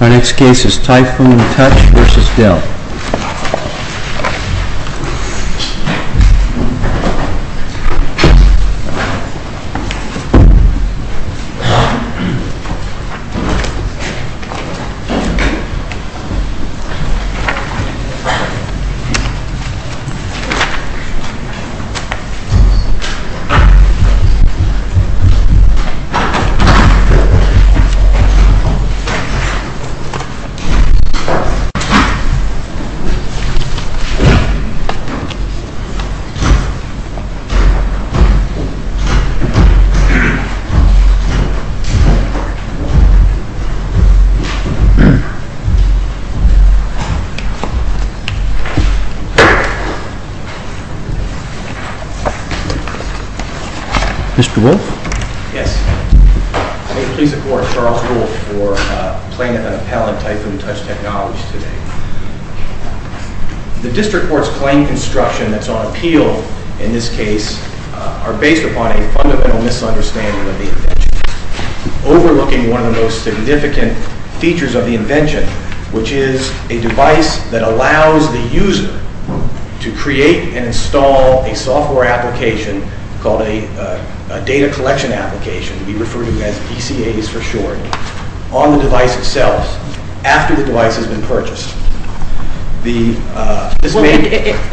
Our next case is TYPHOON TOUCH v. DELL. TYPHOON TOUCH v. DELL Mr. Wolf? Yes. I would like to please applaud Charles Wolf for playing at that appellate TYPHOON TOUCH technology today. The district court's claim construction that's on appeal in this case are based upon a fundamental misunderstanding of the invention, overlooking one of the most significant features of the invention, which is a device that allows the user to create and install a software application called a data collection application, we refer to as DCAs for short, on the device itself after the device has been purchased.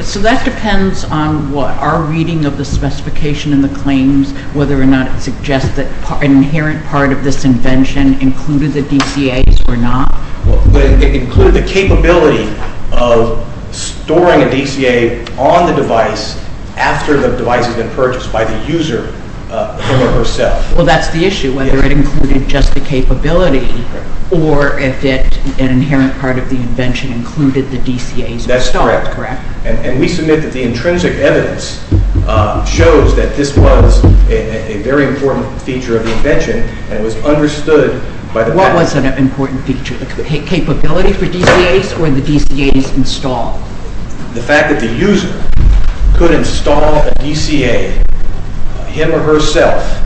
So that depends on what our reading of the specification and the claims, whether or not it suggests that an inherent part of this invention included the DCAs or not? It included the capability of storing a DCA on the device after the device has been purchased by the user, him or herself. Well, that's the issue, whether it included just the capability or if an inherent part of the invention included the DCAs installed, correct? That's correct. And we submit that the intrinsic evidence shows that this was a very important feature of the invention and was understood by the... What was an important feature, the capability for DCAs or the DCAs installed? The fact that the user could install a DCA, him or herself,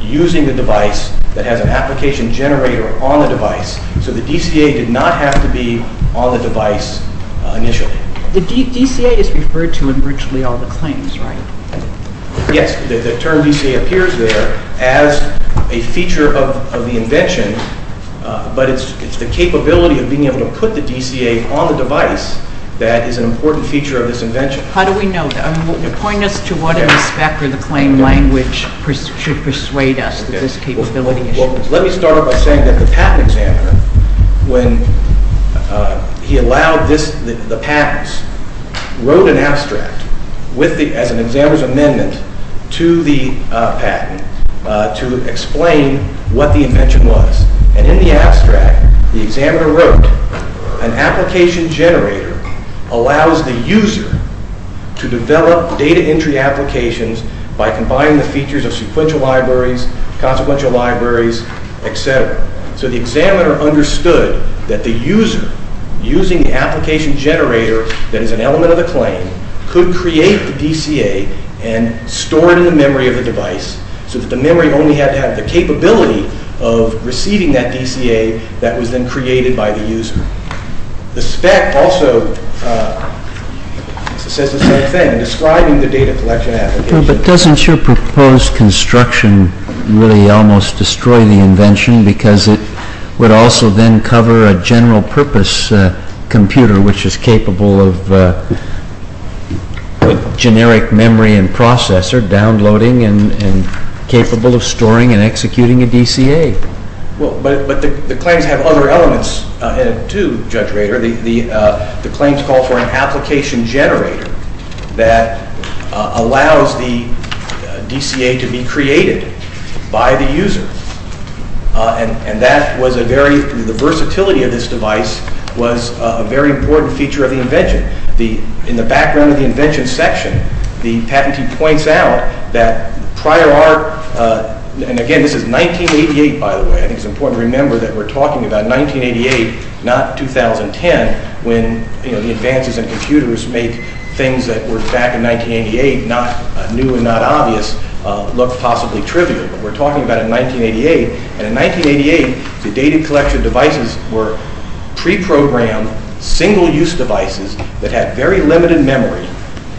using the device that has an application generator on the device, so the DCA did not have to be on the device initially. The DCA is referred to in virtually all the claims, right? Yes, the term DCA appears there as a feature of the invention, but it's the capability of being able to put the DCA on the device that is an important feature of this invention. How do we know that? Point us to what in the spec or the claim language should persuade us that this capability exists. Well, let me start off by saying that the patent examiner, when he allowed the patents, wrote an abstract as an examiner's amendment to the patent to explain what the invention was. And in the abstract, the examiner wrote, an application generator allows the user to develop data entry applications by combining the features of sequential libraries, consequential libraries, etc. So the examiner understood that the user, using the application generator that is an element of the claim, could create the DCA and store it in the memory of the device so that the memory only had to have the capability of receiving that DCA that was then created by the user. The spec also says the same thing, describing the data collection application. But doesn't your proposed construction really almost destroy the invention because it would also then cover a general purpose computer which is capable of generic memory and processor downloading and capable of storing and executing a DCA? Well, but the claims have other elements to Judge Rader. The claims call for an application generator. The versatility of this device was a very important feature of the invention. In the background of the invention section, the patentee points out that prior art, and again, this is 1988, by the way. I think it's important to remember that we're talking about 1988, not 2010, when the advances in computers make things that were back in 1988, not new and not obvious, look possibly trivial. But we're talking about in 1988, and in 1988, the data collection devices were pre-programmed, single-use devices that had very limited memory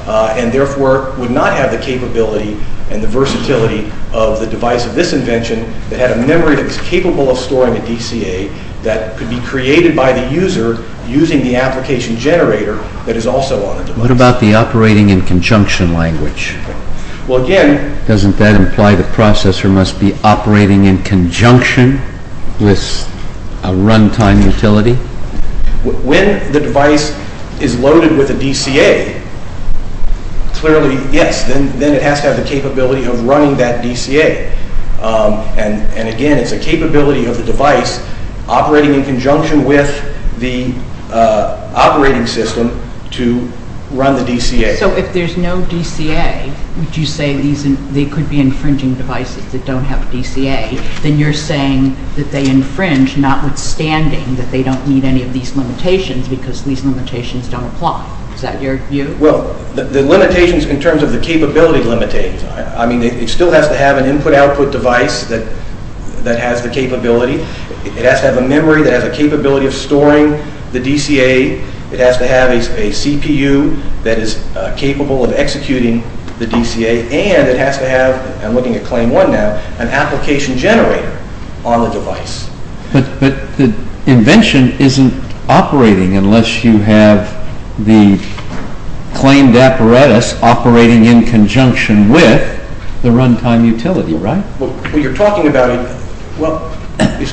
and therefore would not have the capability and the versatility of the device of this invention that had a memory that was capable of storing a DCA that could be created by the user using the application generator that is also on the device. What about the operating in conjunction language? Well, again... With a runtime utility? When the device is loaded with a DCA, clearly, yes, then it has to have the capability of running that DCA. And again, it's a capability of the device operating in conjunction with the operating system to run the DCA. So if there's no DCA, would you say they could be infringing devices that don't have DCA? Then you're saying that they infringe, notwithstanding that they don't meet any of these limitations because these limitations don't apply. Is that your view? Well, the limitations in terms of the capability limitate. I mean, it still has to have an input-output device that has the capability. It has to have a memory that has the capability of storing the DCA. It has to have a CPU that is capable of executing the DCA. And it has to have, I'm looking at claim one now, an application generator on the device. But the invention isn't operating unless you have the claimed apparatus operating in conjunction with the runtime utility, right? Well, you're talking about...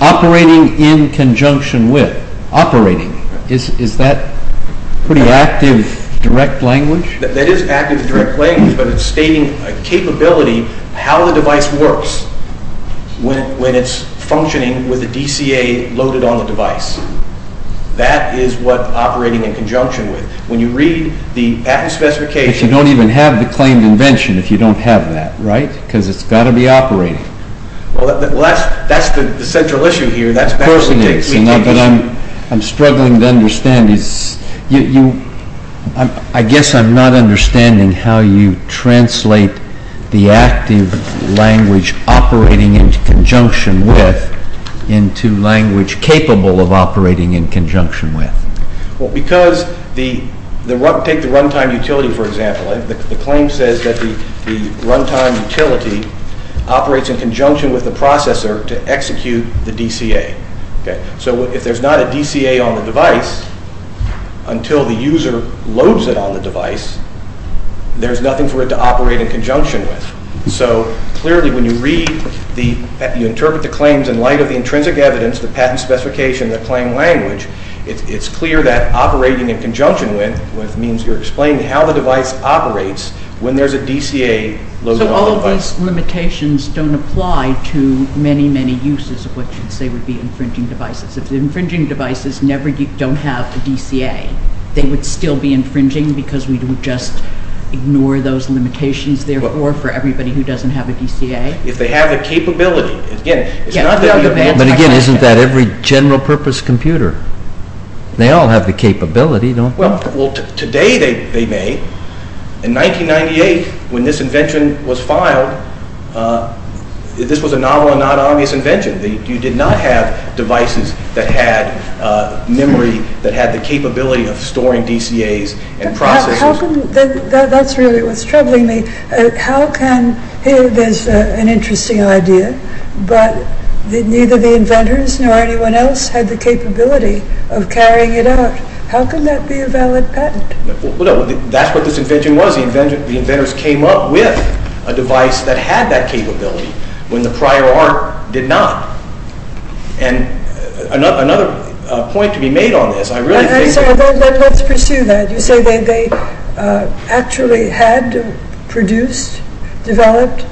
Operating in conjunction with. Operating. Is that pretty active direct language? That is active direct language, but it's stating a capability, how the device works when it's functioning with the DCA loaded on the device. That is what operating in conjunction with. When you read the patent specification... But you don't even have the claimed invention if you don't have that, right? Because it's got to be operating. Well, that's the central issue here. I'm struggling to understand. I guess I'm not understanding how you translate the active language operating in conjunction with into language capable of operating in conjunction with. Well, because take the runtime utility, for example. The claim says that the runtime utility operates in conjunction with the processor to execute the DCA. So if there's not a DCA on the device until the user loads it on the device, there's nothing for it to operate in conjunction with. So clearly when you read, you interpret the claims in light of the intrinsic evidence, the patent specification, the claim language, it's clear that operating in conjunction with means you're explaining how the device operates when there's a DCA loaded on the device. So all of these limitations don't apply to many, many uses of what you say would be infringing devices. If the infringing devices don't have a DCA, they would still be infringing because we would just ignore those limitations therefore for everybody who doesn't have a DCA? If they have the capability. Again, it's not that... But again, isn't that every general purpose computer? They all have the capability, don't they? Well, today they may. In 1998, when this invention was filed, this was a novel and non-obvious invention. You did not have devices that had memory, that had the capability of storing DCAs and processors. That's really what's troubling me. How can... There's an interesting idea, but neither the inventors nor anyone else had the capability of carrying it out. How can that be a valid patent? That's what this invention was. The inventors came up with a device that had that capability when the prior art did not. And another point to be made on this, I really think... Let's pursue that. You say they actually had produced, developed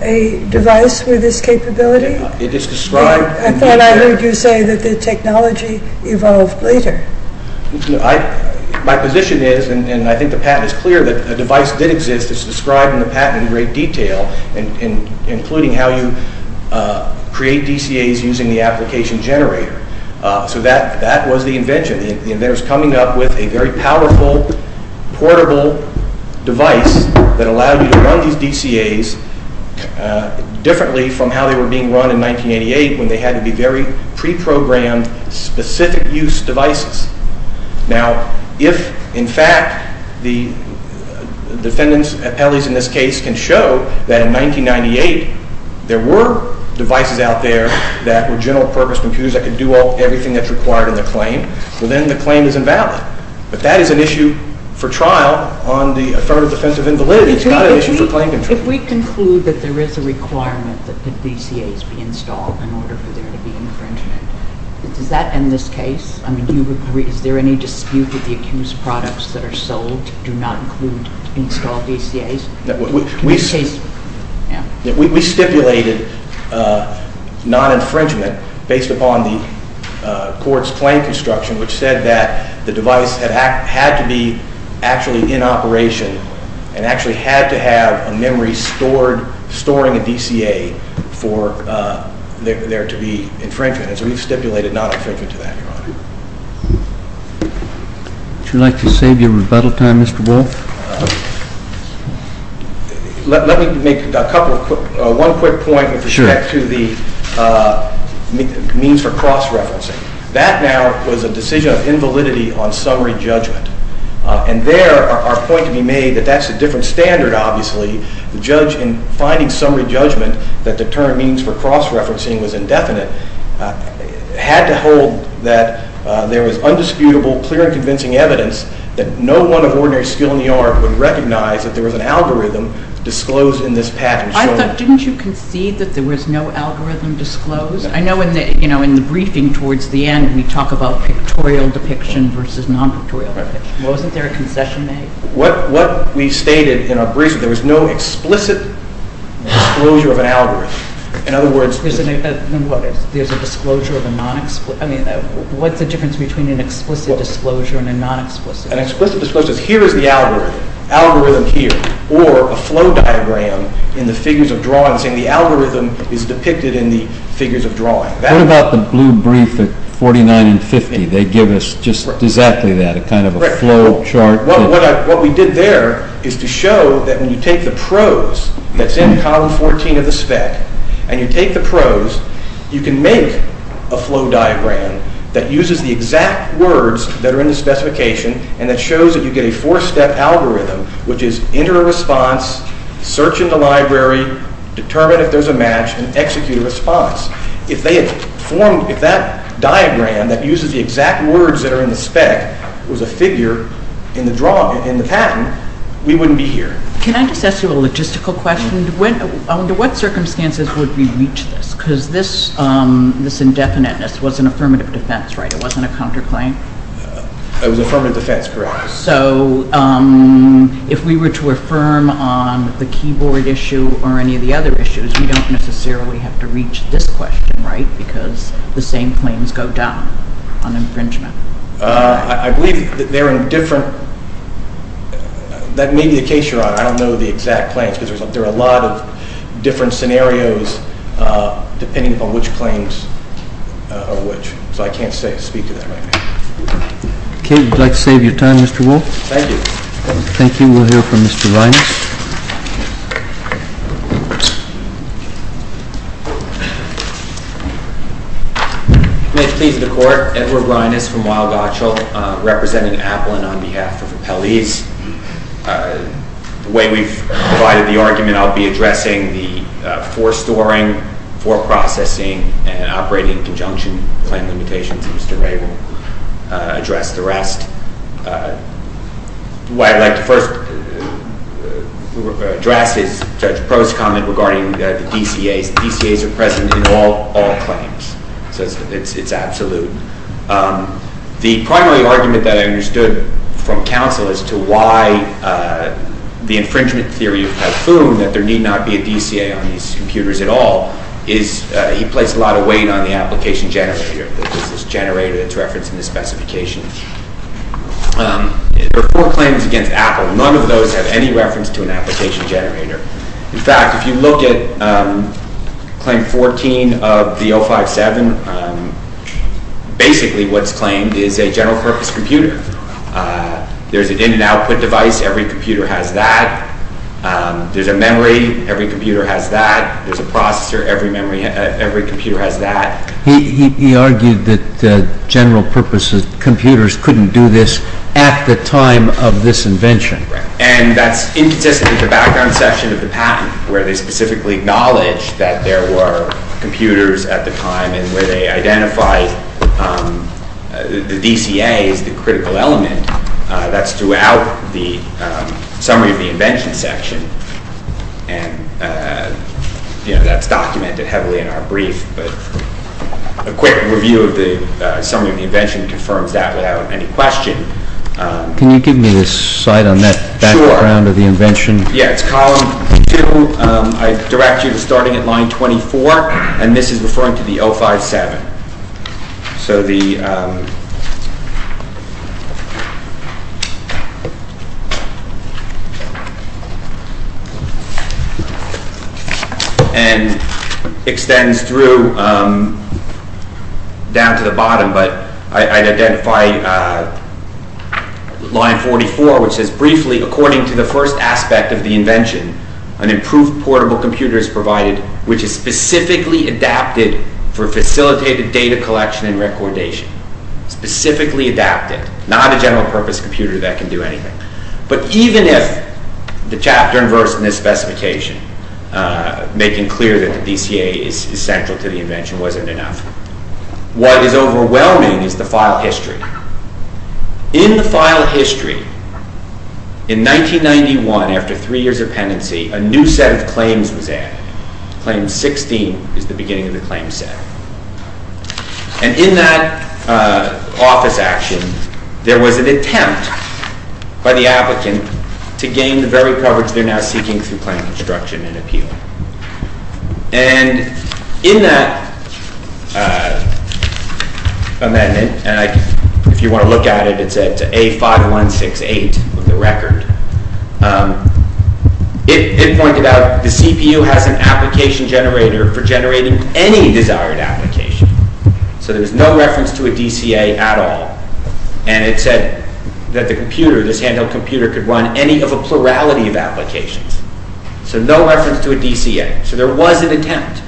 a device with this capability? It is described... I thought I heard you say that the technology evolved later. My position is, and I think the patent is clear, that a device did exist. It's described in the patent in great detail, including how you create DCAs using the application generator. So that was the invention. The inventors coming up with a very powerful, portable device that allowed you to run these DCAs differently from how they were being run in 1988 when they had to be very pre-programmed, specific-use devices. Now, if, in fact, the defendant's appellees in this case can show that in 1998 there were devices out there that were general-purpose computers that could do everything that's required in the claim, well, then the claim is invalid. But that is an issue for trial on the affirmative defense of invalidity. It's not an issue for claim control. If we conclude that there is a requirement that DCAs be installed in order for there to be infringement, does that end this case? I mean, is there any dispute with the accused products that are sold do not include installed DCAs? We stipulated non-infringement based upon the court's claim construction, which said that the device had to be actually in operation and actually had to have a memory storing a DCA for there to be infringement. And so we've stipulated non-infringement to that, Your Honor. Would you like to save your rebuttal time, Mr. Wolf? Let me make one quick point with respect to the means for cross-referencing. That now was a decision of invalidity on summary judgment. And there, our point to be made that that's a different standard, obviously. The judge, in finding summary judgment that the term means for cross-referencing was indefinite, had to hold that there was undisputable, clear and convincing evidence that no one of ordinary skill in the art would recognize that there was an algorithm disclosed in this package. I thought, didn't you concede that there was no algorithm disclosed? I know in the briefing towards the end, we talk about pictorial depiction versus non-pictorial depiction. Wasn't there a concession made? What we stated in our briefing, there was no explicit disclosure of an algorithm. In other words... There's a disclosure of a non-explicit... I mean, what's the difference between an explicit disclosure and a non-explicit disclosure? An explicit disclosure is here is the algorithm, algorithm here, or a flow diagram in the figures of drawings and the algorithm is depicted in the figures of drawings. What about the blue brief at 49 and 50? They give us just exactly that, a kind of a flow chart. What we did there is to show that when you take the prose, that's in column 14 of the spec, and you take the prose, you can make a flow diagram that uses the exact words that are in the specification and that shows that you get a four-step algorithm, which is enter a response, search in the library, determine if there's a match, and execute a response. If that diagram that uses the exact words that are in the spec was a figure in the pattern, we wouldn't be here. Can I just ask you a logistical question? Under what circumstances would we reach this? Because this indefiniteness was an affirmative defense, right? It wasn't a counterclaim? It was an affirmative defense, correct. So if we were to affirm on the keyboard issue or any of the other issues, we don't necessarily have to reach this question, right? Because the same claims go down on infringement. I believe they're in different... That may be the case, Your Honor. I don't know the exact claims because there are a lot of different scenarios depending upon which claims are which. So I can't speak to that right now. Okay. Would you like to save your time, Mr. Wolfe? Thank you. Thank you. We'll hear from Mr. Reines. May it please the Court, Edward Reines from Weill Gotschall representing Applin on behalf of Appellees. The way we've provided the argument, I'll be addressing the forestoring, foreprocessing, and operating in conjunction with the claim limitations, and Mr. Ray will address the rest. What I'd like to first address is Judge Prost's comment regarding the DCAs. DCAs are present in all claims, so it's absolute. The primary argument that I understood from counsel as to why the infringement theory of Calhoun that there need not be a DCA on these computers at all is he placed a lot of weight on the application generator, the business generator that's referenced in the specification. There are four claims against Appel. None of those have any reference to an application generator. In fact, if you look at Claim 14 of the 057, basically what's claimed is a general-purpose computer. There's an in-and-output device. Every computer has that. There's a memory. Every computer has that. There's a processor. Every computer has that. He argued that general-purpose computers couldn't do this at the time of this invention. And that's inconsistent with the background section of the patent where they specifically acknowledge that there were computers at the time and where they identify the DCA as the critical element. That's throughout the summary of the invention section. And that's documented heavily in our brief. But a quick review of the summary of the invention confirms that without any question. Can you give me the site on that background of the invention? Yeah, it's column 2. I direct you to starting at line 24, and this is referring to the 057. So the... And extends through down to the bottom, but I'd identify line 44, which says, Briefly, according to the first aspect of the invention, an improved portable computer is provided which is specifically adapted for facilitated data collection and recordation. Specifically adapted. Not a general-purpose computer that can do anything. But even if the chapter and verse in this specification making clear that the DCA is central to the invention wasn't enough, what is overwhelming is the file history. In the file history, in 1991, after three years of penance, a new set of claims was added. Claim 16 is the beginning of the claim set. And in that office action, there was an attempt by the applicant to gain the very coverage they're now seeking through claim construction and appeal. And in that amendment, and if you want to look at it, it's A5168 of the record, it pointed out the CPU has an application generator for generating any desired application. So there's no reference to a DCA at all. And it said that the computer, this handheld computer, could run any of a plurality of applications. So no reference to a DCA. So there was an attempt.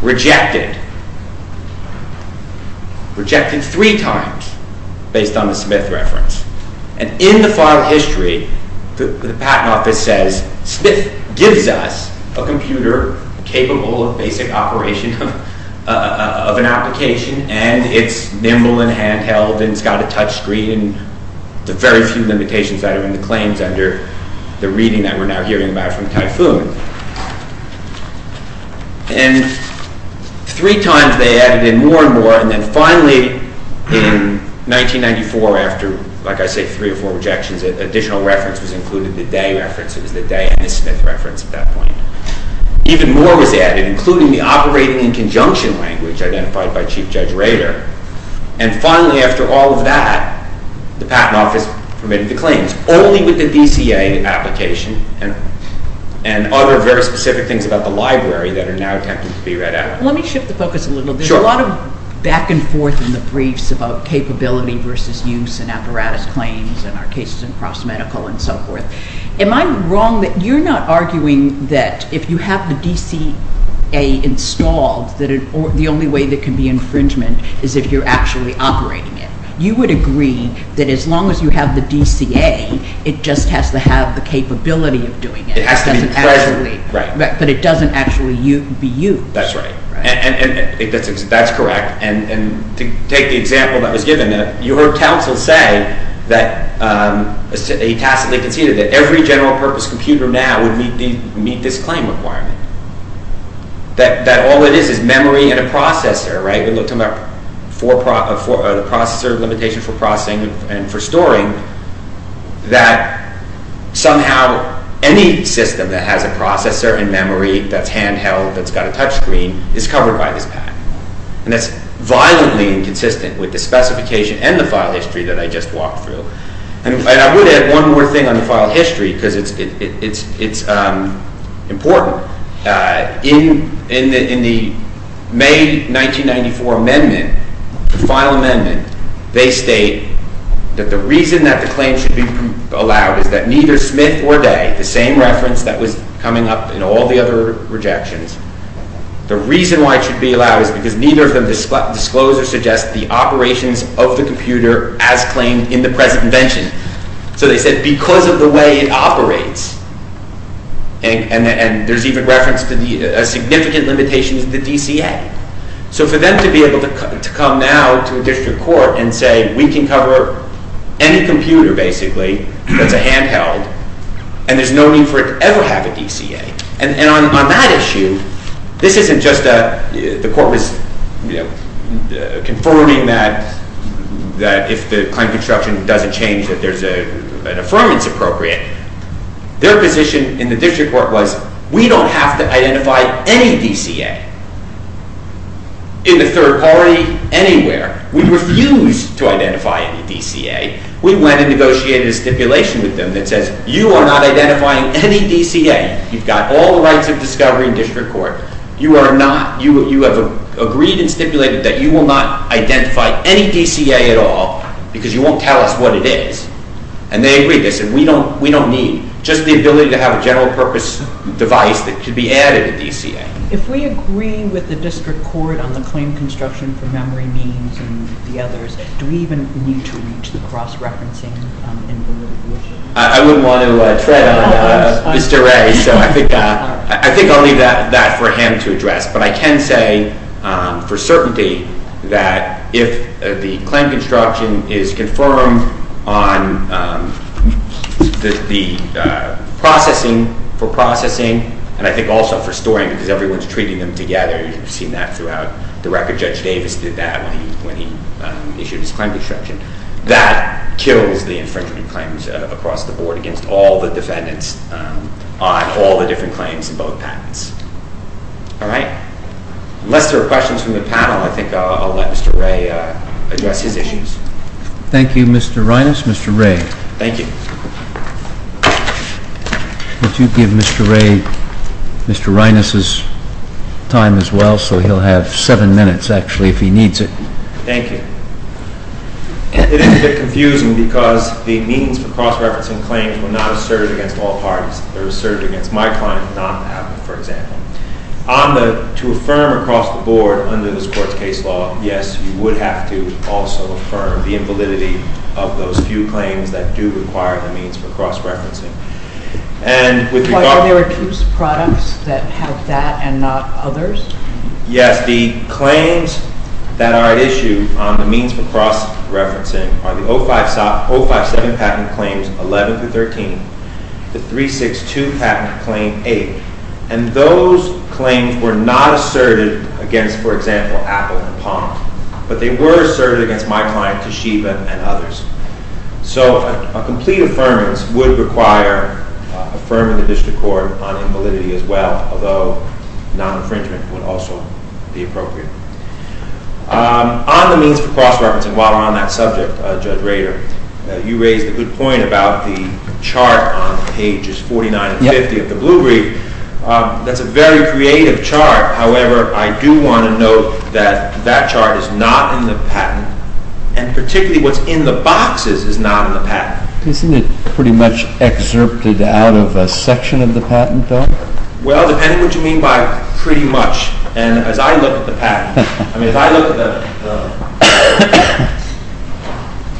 Rejected. Rejected three times based on the Smith reference. And in the file history, the patent office says, Smith gives us a computer capable of basic operation of an application, and it's nimble and handheld, and it's got a touch screen, and the very few limitations that are in the claims under the reading that we're now hearing about from Typhoon. And three times they added in more and more, and then finally, in 1994, after, like I say, three or four rejections, an additional reference was included, the Day reference, it was the Day and the Smith reference at that point. Even more was added, including the operating in conjunction language identified by Chief Judge Rader. And finally, after all of that, the patent office permitted the claims, only with the DCA application and other very specific things about the library that are now attempting to be read out. Let me shift the focus a little. There's a lot of back and forth in the briefs about capability versus use and apparatus claims and our cases in cross-medical and so forth. Am I wrong that you're not arguing that if you have the DCA installed, that the only way that can be infringement is if you're actually operating it? You would agree that as long as you have the DCA, it just has to have the capability of doing it. It has to be pleasurable. But it doesn't actually be used. That's right. And that's correct. And to take the example that was given, you heard Townsville say that... He tacitly conceded that every general-purpose computer now would meet this claim requirement. That all it is is memory and a processor, right? We're talking about the processor limitation for processing and for storing. That somehow any system that has a processor and memory that's hand-held, that's got a touchscreen, is covered by this PAC. And that's violently inconsistent with the specification and the file history that I just walked through. And I would add one more thing on the file history because it's important. In the May 1994 amendment, the final amendment, they state that the reason that the claim should be allowed is that neither Smith or Day, the same reference that was coming up in all the other rejections, the reason why it should be allowed is because neither of them disclose or suggest the operations of the computer as claimed in the present invention. So they said because of the way it operates. And there's even reference to the significant limitations of the DCA. So for them to be able to come now to a district court and say, we can cover any computer, basically, that's a hand-held, and there's no need for it to ever have a DCA. And on that issue, this isn't just the court was confirming that if the claim construction doesn't change that there's an affirmance appropriate. Their position in the district court was, we don't have to identify any DCA in the third party anywhere. We refuse to identify any DCA. We went and negotiated a stipulation with them that says, you are not identifying any DCA. You've got all the rights of discovery in district court. You are not. You have agreed and stipulated that you will not identify any DCA at all because you won't tell us what it is. And they agreed. They said, we don't need just the ability to have a general-purpose device that could be added to DCA. If we agree with the district court on the claim construction for memory means and the others, do we even need to reach the cross-referencing in the new position? I wouldn't want to tread on Mr. Ray. So I think I'll leave that for him to address. But I can say for certainty that if the claim construction is confirmed on the processing, for processing, and I think also for storing because everyone's treating them together. You've seen that throughout the record. I think Judge Davis did that when he issued his claim construction. That kills the infringement claims across the board against all the defendants on all the different claims in both patents. All right? Unless there are questions from the panel, I think I'll let Mr. Ray address his issues. Thank you, Mr. Reines. Mr. Ray. Thank you. Would you give Mr. Ray, Mr. Reines' time as well so he'll have seven minutes, actually, if he needs it. Thank you. It is a bit confusing because the means for cross-referencing claims were not asserted against all parties. They were asserted against my client, not the patent, for example. To affirm across the board under this court's case law, yes, you would have to also affirm the invalidity of those few claims that do require the means for cross-referencing. And with regard to... that have that and not others? Yes, the claims that are issued on the means for cross-referencing are the 057 patent claims 11 through 13, the 362 patent claim 8. And those claims were not asserted against, for example, Apple and Pomp, but they were asserted against my client, Toshiba, and others. So a complete affirmance would require affirming the district court on invalidity as well, although non-infringement would also be appropriate. On the means for cross-referencing, while we're on that subject, Judge Rader, you raised a good point about the chart on pages 49 and 50 of the Blue Brief. That's a very creative chart. However, I do want to note that that chart is not in the patent, and particularly what's in the boxes is not in the patent. Isn't it pretty much excerpted out of a section of the patent, though? Well, depending on what you mean by pretty much, and as I look at the patent, I mean, if I look at the...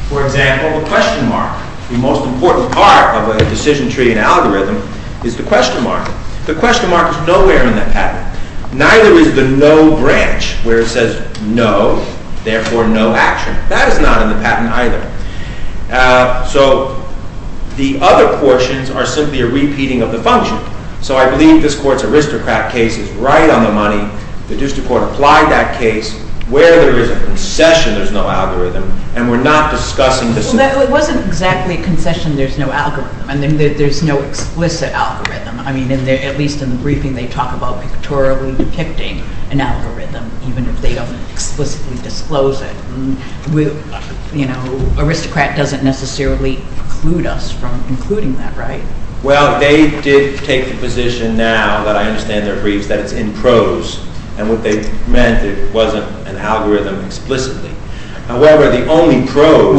For example, the question mark, the most important part of a decision-treating algorithm is the question mark. The question mark is nowhere in that patent. Neither is the no branch, where it says no, therefore no action. That is not in the patent either. So the other portions are simply a repeating of the function. So I believe this Court's aristocrat case is right on the money. The district court applied that case where there is a concession, there's no algorithm, and we're not discussing the... Well, it wasn't exactly a concession, there's no algorithm, and there's no explicit algorithm. I mean, at least in the briefing, they talk about pictorially depicting an algorithm, even if they don't explicitly disclose it. You know, aristocrat doesn't necessarily preclude us from including that, right? Well, they did take the position now that I understand their briefs, that it's in prose, and what they meant, it wasn't an algorithm explicitly. However, the only prose...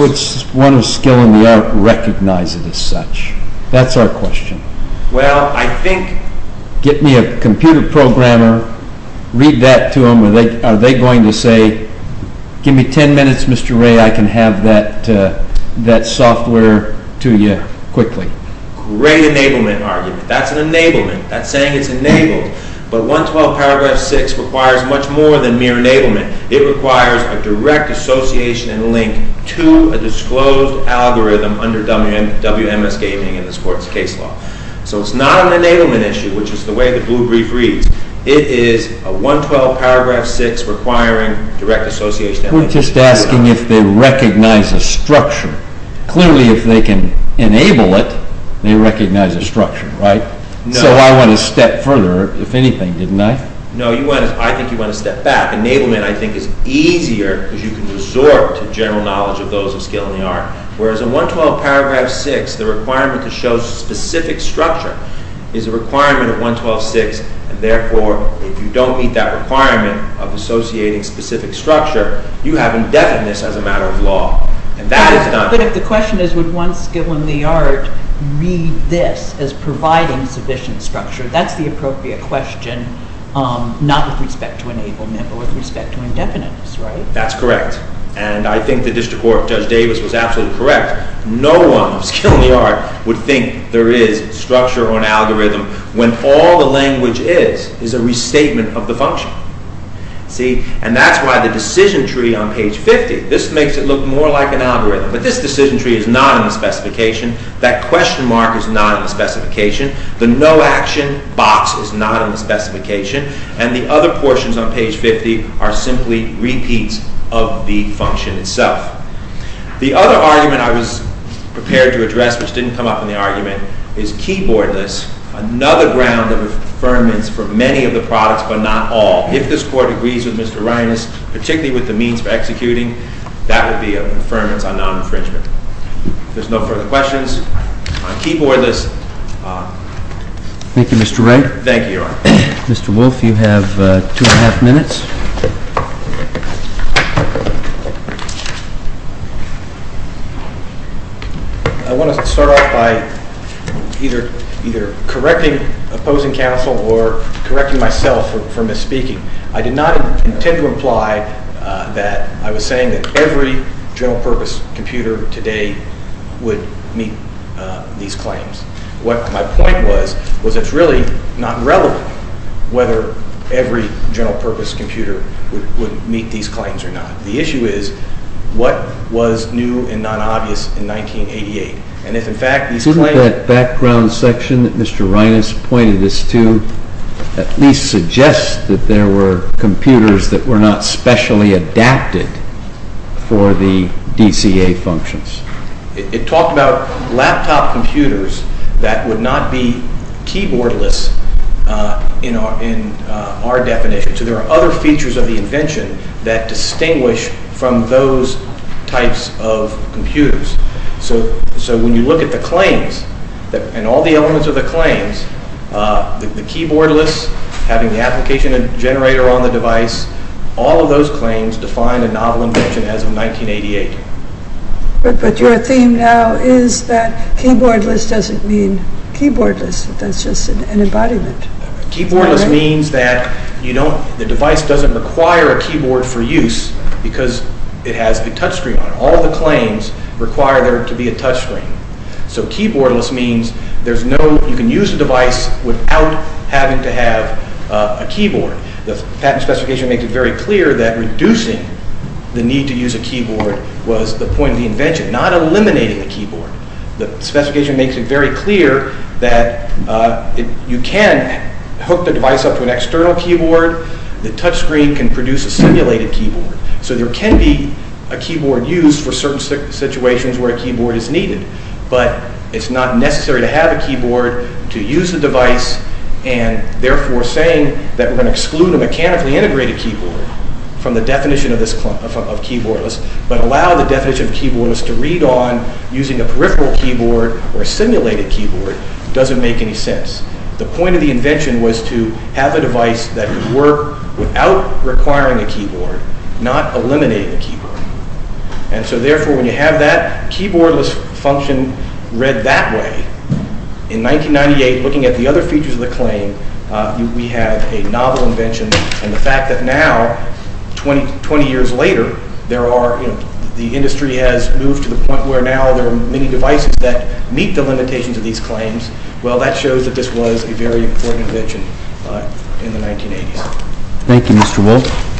Would one of skill in the art recognize it as such? That's our question. Well, I think... Get me a computer programmer, read that to them, are they going to say, give me 10 minutes, Mr. Ray, I can have that software to you quickly. Great enablement argument. That's an enablement. That's saying it's enabled. But 112 paragraph 6 requires much more than mere enablement. It requires a direct association and link to a disclosed algorithm under WMS gaming in this court's case law. So it's not an enablement issue, which is the way the blue brief reads. It is a 112 paragraph 6 requiring direct association... We're just asking if they recognize a structure. Clearly, if they can enable it, they recognize a structure, right? So I want to step further, if anything, didn't I? No, I think you want to step back. Enablement, I think, is easier because you can resort to general knowledge of those of skill in the art, whereas in 112 paragraph 6 the requirement to show specific structure is a requirement of 112 paragraph 6, and therefore, if you don't meet that requirement of associating specific structure, you have indefiniteness as a matter of law. And that is not... But if the question is, would one skill in the art read this as providing sufficient structure, that's the appropriate question, not with respect to enablement, but with respect to indefiniteness, right? That's correct. And I think the district court, Judge Davis, was absolutely correct. No one of skill in the art would think there is structure or an algorithm when all the language is a restatement of the function. See? And that's why the decision tree on page 50, this makes it look more like an algorithm, but this decision tree is not in the specification, that question mark is not in the specification, the no action box is not in the specification, and the other portions on page 50 are simply repeats of the function itself. The other argument I was prepared to address, which didn't come up in the argument, is keyboardless, another ground of affirmance for many of the products, but not all. If this court agrees with Mr. Reines, particularly with the means for executing, that would be an affirmance on non-infringement. If there's no further questions, on keyboardless... Thank you, Mr. Wright. Thank you, Your Honor. Mr. Wolf, you have two and a half minutes. I want to start off by either correcting opposing counsel or correcting myself for misspeaking. I did not intend to imply that I was saying that every general purpose computer today would meet these claims. What my point was, was it's really not relevant whether every general purpose computer would meet these claims or not. The issue is, what was new and non-obvious in 1988? Isn't that background section that Mr. Reines pointed us to at least suggest that there were computers that were not specially adapted for the DCA functions? It talked about laptop computers that would not be keyboardless in our definition. that distinguish from those types of computers. So when you look at the claims, and all the elements of the claims, the keyboardless, having the application generator on the device, all of those claims define a novel invention as of 1988. But your theme now is that keyboardless doesn't mean keyboardless. That's just an embodiment. Keyboardless means that the device doesn't require a keyboard for use because it has a touchscreen on it. All the claims require there to be a touchscreen. So keyboardless means you can use the device without having to have a keyboard. The patent specification makes it very clear that reducing the need to use a keyboard was the point of the invention, not eliminating the keyboard. The specification makes it very clear that you can hook the device up to an external keyboard. The touchscreen can produce a simulated keyboard. So there can be a keyboard used for certain situations where a keyboard is needed. But it's not necessary to have a keyboard to use the device, and therefore saying that we're going to exclude a mechanically integrated keyboard from the definition of keyboardless, but allow the definition of keyboardless to read on using a peripheral keyboard or a simulated keyboard doesn't make any sense. The point of the invention was to have a device that would work without requiring a keyboard, not eliminate a keyboard. And so therefore, when you have that keyboardless function read that way, in 1998, looking at the other features of the claim, we have a novel invention. And the fact that now, 20 years later, the industry has moved to the point where now there are many devices that meet the limitations of these claims, well, that shows that this was a very important invention in the 1980s. Thank you, Mr. Wolf.